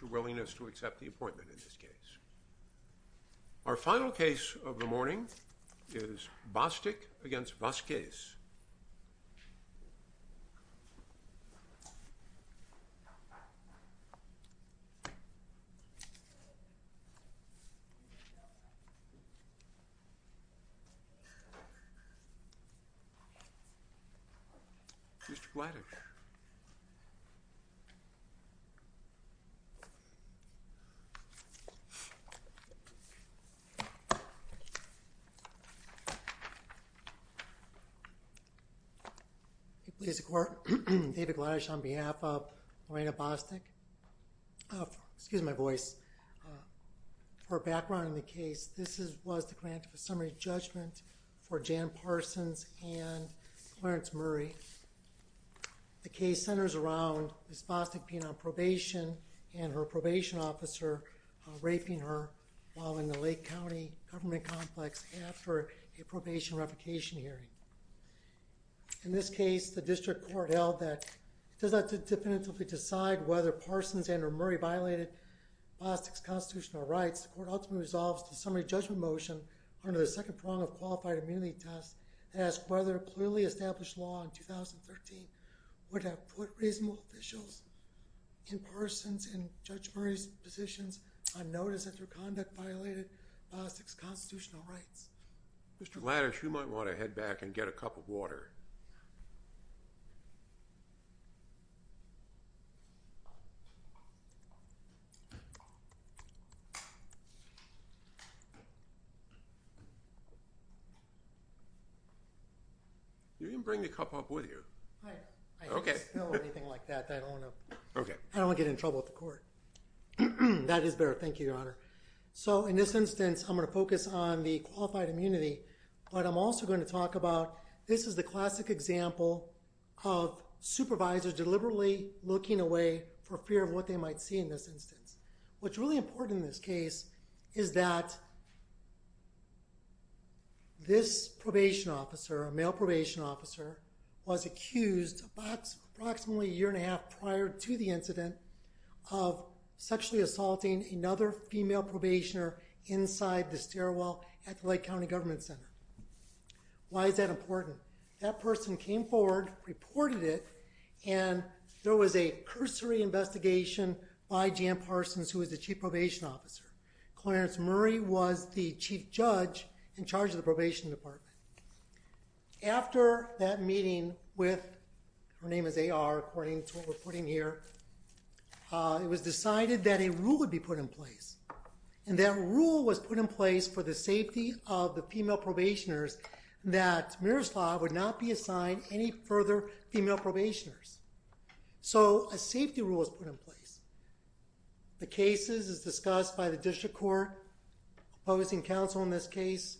your willingness to accept the appointment in this case. Our final case of the morning is Bostic v. Vasquez. Mr. Blatter. He pleads the court. David Gladysh on behalf of Lorena Bostic. Excuse my voice. Her background in the case. This was the grant of a summary judgment for Jan Parsons and Clarence Murray. The case centers around Ms. Bostic being on probation and her probation officer raping her while in the Lake County government complex after a probation revocation hearing. In this case, the district court held that it does not definitively decide whether Parsons and or Murray violated Bostic's constitutional rights. The court ultimately resolves the summary judgment motion under the second prong of qualified immunity test that asks whether clearly established law in 2013 would have put reasonable officials in Parsons and Judge Murray's positions on notice that their conduct violated Bostic's constitutional rights. Mr. Gladysh, you might want to head back and get a cup of water. You didn't bring the cup up, would you? I don't want to get in trouble with the court. That is better. Thank you, Your Honor. So in this instance, I'm going to focus on the qualified immunity, but I'm also going to talk about this is the classic example of supervisors deliberately looking away for fear of what they might see in this instance. What's really important in this case is that this probation officer, a male probation officer, was accused approximately a year and a half prior to the incident of sexually assaulting another female probationer inside the stairwell at the Lake County Government Center. Why is that important? That person came forward, reported it, and there was a Chief Probation Officer. Clarence Murray was the chief judge in charge of the probation department. After that meeting with, her name is A.R., according to what we're putting here, it was decided that a rule would be put in place, and that rule was put in place for the safety of the female probationers that Miroslav would not be discussed by the district court opposing counsel in this case.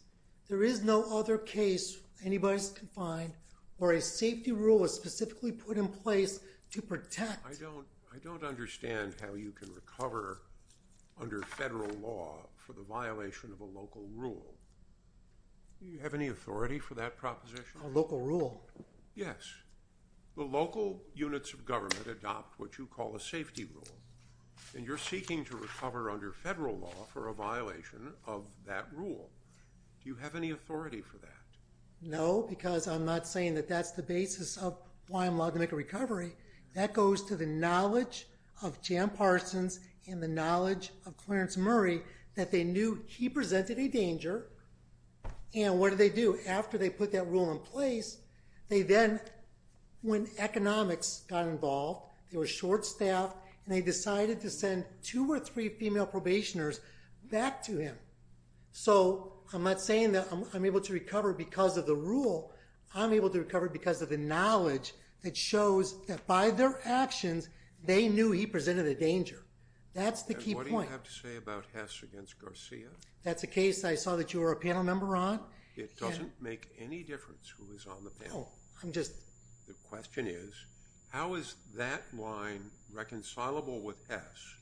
There is no other case anybody's confined or a safety rule is specifically put in place to protect. I don't understand how you can recover under federal law for the violation of a local rule. Do you have any authority for that proposition? A local rule? Yes. The local units of government adopt what you call a safety rule, and you're seeking to recover under federal law for a violation of that rule. Do you have any authority for that? No, because I'm not saying that that's the basis of why I'm allowed to make a recovery. That goes to the knowledge of Jan Parsons and the knowledge of Clarence Murray that they When economics got involved, they were short-staffed, and they decided to send two or three female probationers back to him. So, I'm not saying that I'm able to recover because of the rule. I'm able to recover because of the knowledge that shows that by their actions, they knew he presented a danger. That's the key point. And what do you have to say about Hess against Garcia? That's a case I saw that you were a panel member on. It doesn't make any difference who is on the panel. The question is, how is that line reconcilable with Hess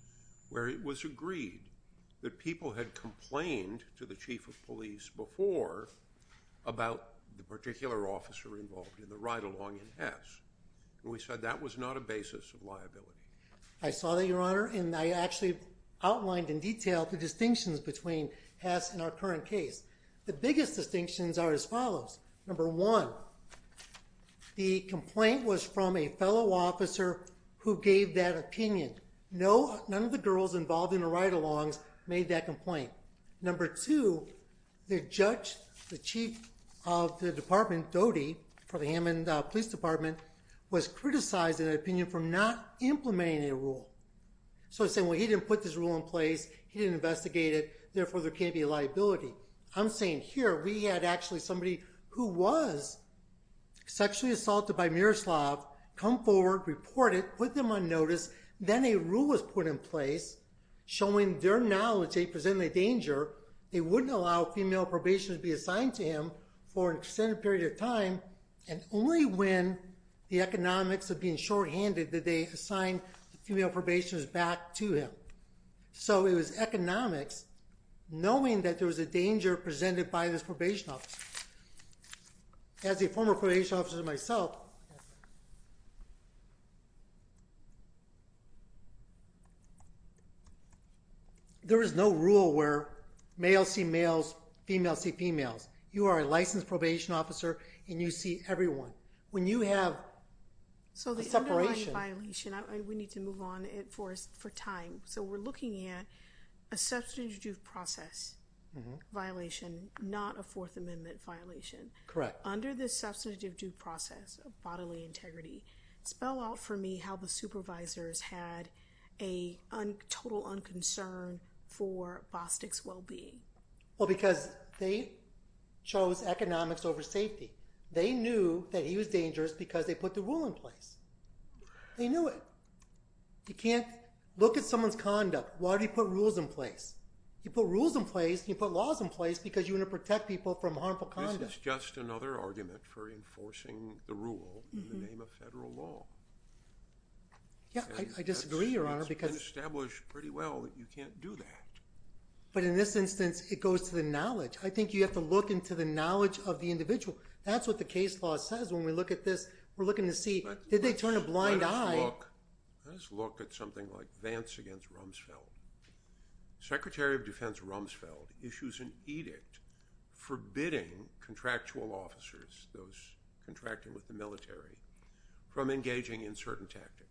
where it was agreed that people had complained to the chief of police before about the particular officer involved in the ride-along in Hess? And we said that was not a basis of liability. I saw that, Your Honor, and I actually outlined in detail the distinctions between Hess and our current case. The biggest distinctions are as follows. Number one, the complaint was from a fellow officer who gave that opinion. None of the girls involved in the ride-alongs made that complaint. Number two, the judge, the chief of the department, Dodi, for the Hammond Police Department, was criticized in that opinion for not implementing a rule. So he said, well, he didn't put this rule in place. He didn't investigate it. Therefore, there can't be a liability. I'm saying here, we had actually somebody who was sexually assaulted by Miroslav come forward, report it, put them on notice. Then a rule was put in place showing their knowledge they presented a danger. However, they wouldn't allow female probationers to be assigned to him for an extended period of time, and only when the economics of being shorthanded did they assign the female probationers back to him. So it was economics, knowing that there was a danger presented by this probation officer. As a former probation officer myself, there is no rule where males see males, females see females. You are a licensed probation officer, and you see everyone. When you have a separation... So the underlying violation, we need to move on for time. So we're looking at a substantive due process violation, not a Fourth Amendment violation. Correct. Under the substantive due process of bodily integrity, spell out for me how the supervisors had a total unconcern for Bostic's well-being. Well, because they chose economics over safety. They knew that he was dangerous because they put the rule in place. They knew it. You can't look at someone's conduct. Why do you put rules in place? You put rules in place and you put laws in place because you want to protect people from harmful conduct. This is just another argument for enforcing the rule in the name of federal law. Yeah, I disagree, Your Honor, because... It's been established pretty well that you can't do that. But in this instance, it goes to the knowledge. I think you have to look into the knowledge of the individual. That's what the case law says when we look at this. We're looking to see, did they turn a blind eye? Let us look at something like Vance against Rumsfeld. Secretary of Defense Rumsfeld issues an edict forbidding contractual officers, those contracting with the military, from engaging in certain tactics.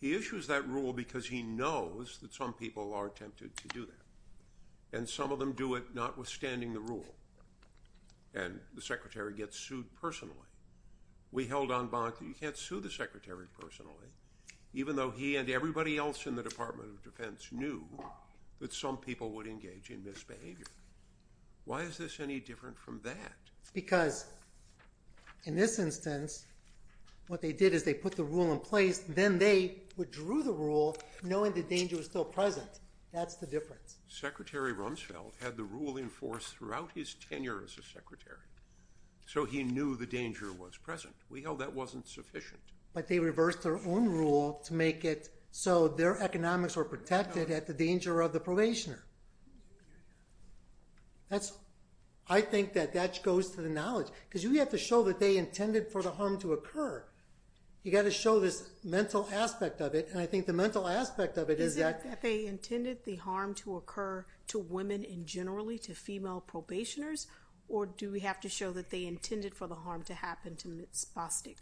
He issues that rule because he knows that some people are tempted to do that. And some of them do it notwithstanding the rule. And the secretary gets sued personally. We held on bond that you can't sue the secretary personally, even though he and everybody else in the Department of Defense knew that some people would engage in misbehavior. Why is this any different from that? Because in this instance, what they did is they put the rule in place, then they withdrew the rule knowing the danger was still present. That's the difference. Secretary Rumsfeld had the rule in force throughout his tenure as a secretary. So he knew the danger was present. We held that wasn't sufficient. But they reversed their own rule to make it so their economics were protected at the danger of the probationer. I think that that goes to the knowledge. Because you have to show that they intended for the harm to occur. You've got to show this mental aspect of it. Is it that they intended the harm to occur to women and generally to female probationers? Or do we have to show that they intended for the harm to happen to Ms. Bostic?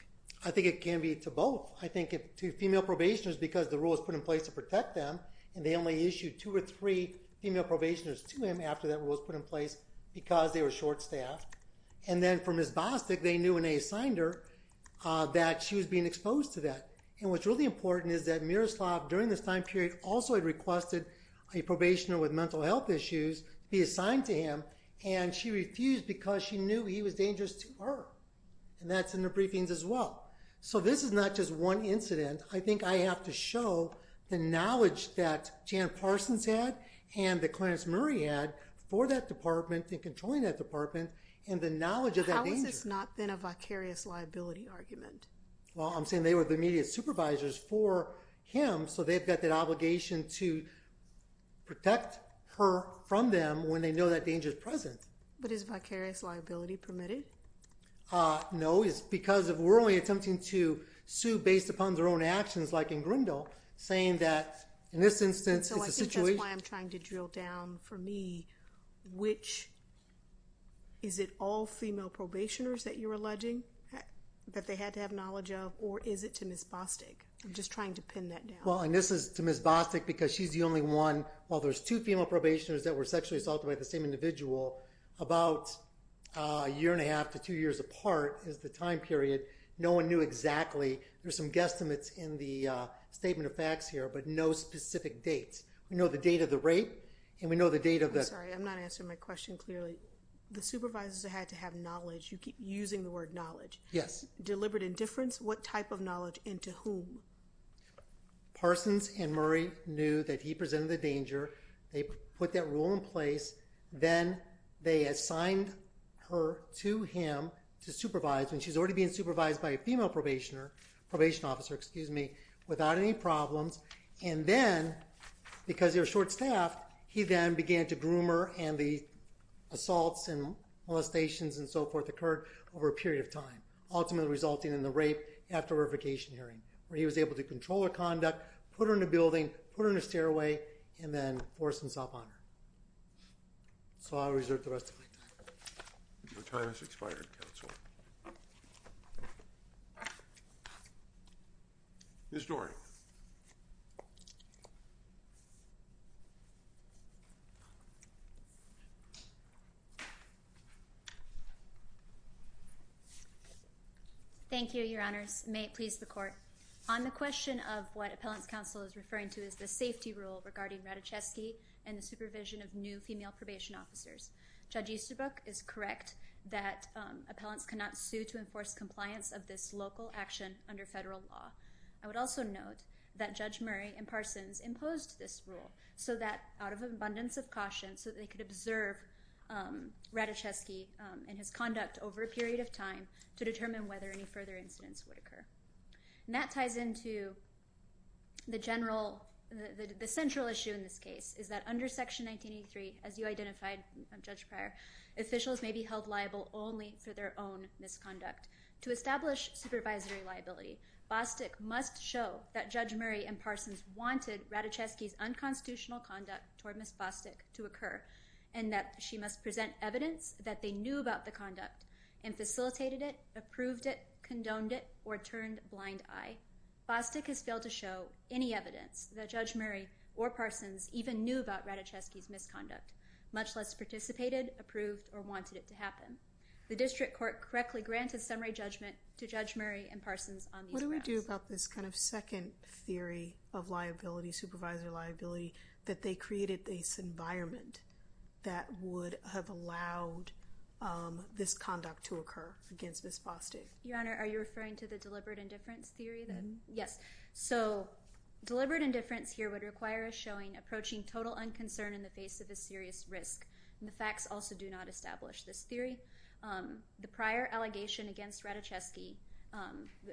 I think it can be to both. I think to female probationers because the rule was put in place to protect them, and they only issued two or three female probationers to him after that rule was put in place because they were short-staffed. And then for Ms. Bostic, they knew when they assigned her that she was being exposed to that. And what's really important is that Miroslav, during this time period, also had requested a probationer with mental health issues be assigned to him, and she refused because she knew he was dangerous to her. And that's in the briefings as well. So this is not just one incident. I think I have to show the knowledge that Jan Parsons had and that Clarence Murray had for that department and controlling that department and the knowledge of that danger. How has this not been a vicarious liability argument? Well, I'm saying they were the immediate supervisors for him, so they've got that obligation to protect her from them when they know that danger is present. But is vicarious liability permitted? No. It's because we're only attempting to sue based upon their own actions, like in Grindle, saying that in this instance it's a situation. So I think that's why I'm trying to drill down for me which – that they had to have knowledge of, or is it to Ms. Bostic? I'm just trying to pin that down. Well, and this is to Ms. Bostic because she's the only one. While there's two female probationers that were sexually assaulted by the same individual, about a year and a half to two years apart is the time period. No one knew exactly. There's some guesstimates in the statement of facts here, but no specific dates. We know the date of the rape, and we know the date of the – I'm sorry, I'm not answering my question clearly. The supervisors had to have knowledge. You keep using the word knowledge. Yes. Deliberate indifference? What type of knowledge and to whom? Parsons and Murray knew that he presented the danger. They put that rule in place. Then they assigned her to him to supervise, and she's already being supervised by a female probation officer without any problems. And then, because they were short-staffed, he then began to groom her, and the assaults and molestations and so forth occurred over a period of time, ultimately resulting in the rape after verification hearing, where he was able to control her conduct, put her in a building, put her in a stairway, and then force himself on her. So I'll reserve the rest of my time. Your time has expired, counsel. Thank you. Ms. Doran. Thank you, Your Honors. May it please the Court. On the question of what Appellant's counsel is referring to as the safety rule regarding Ratajkowski and the supervision of new female probation officers, Judge Easterbrook is correct that appellants cannot sue to enforce compliance of this local action under federal law. I would also note that Judge Murray and Parsons imposed this rule out of an abundance of caution so that they could observe Ratajkowski and his conduct over a period of time to determine whether any further incidents would occur. And that ties into the central issue in this case, is that under Section 1983, as you identified, Judge Pryor, officials may be held liable only for their own misconduct. To establish supervisory liability, Bostick must show that Judge Murray and Parsons wanted Ratajkowski's unconstitutional conduct toward Ms. Bostick to occur, and that she must present evidence that they knew about the conduct and facilitated it, approved it, condoned it, or turned a blind eye. Finally, Bostick has failed to show any evidence that Judge Murray or Parsons even knew about Ratajkowski's misconduct, much less participated, approved, or wanted it to happen. The district court correctly granted summary judgment to Judge Murray and Parsons on these grounds. What do we do about this kind of second theory of liability, supervisory liability, that they created this environment that would have allowed this conduct to occur against Ms. Bostick? Your Honor, are you referring to the deliberate indifference theory? Yes. So deliberate indifference here would require us showing approaching total unconcern in the face of a serious risk, and the facts also do not establish this theory. The prior allegation against Ratajkowski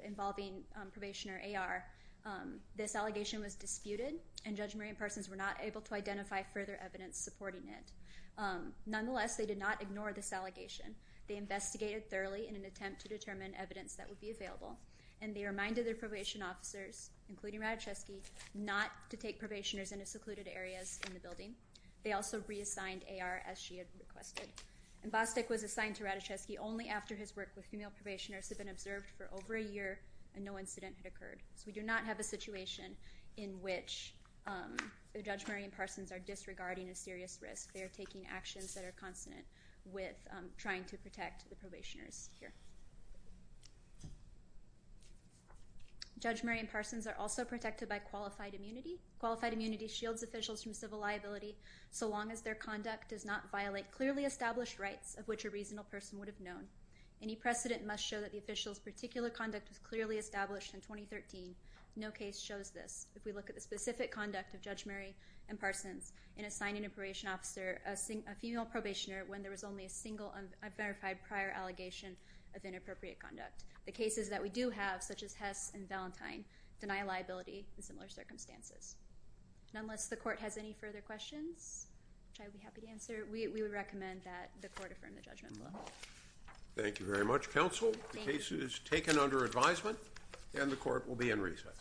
involving probation or AR, this allegation was disputed, and Judge Murray and Parsons were not able to identify further evidence supporting it. Nonetheless, they did not ignore this allegation. They investigated thoroughly in an attempt to determine evidence that would be available, and they reminded their probation officers, including Ratajkowski, not to take probationers into secluded areas in the building. They also reassigned AR as she had requested. And Bostick was assigned to Ratajkowski only after his work with female probationers had been observed for over a year and no incident had occurred. So we do not have a situation in which Judge Murray and Parsons are disregarding a serious risk. They are taking actions that are consonant with trying to protect the probationers here. Judge Murray and Parsons are also protected by qualified immunity. Qualified immunity shields officials from civil liability so long as their conduct does not violate clearly established rights of which a reasonable person would have known. Any precedent must show that the official's particular conduct was clearly established in 2013. No case shows this. If we look at the specific conduct of Judge Murray and Parsons in assigning a probation officer a female probationer when there was only a single unverified prior allegation of inappropriate conduct, the cases that we do have, such as Hess and Valentine, deny liability in similar circumstances. And unless the court has any further questions, which I would be happy to answer, we would recommend that the court affirm the judgment. Thank you very much, counsel. The case is taken under advisement, and the court will be in recess.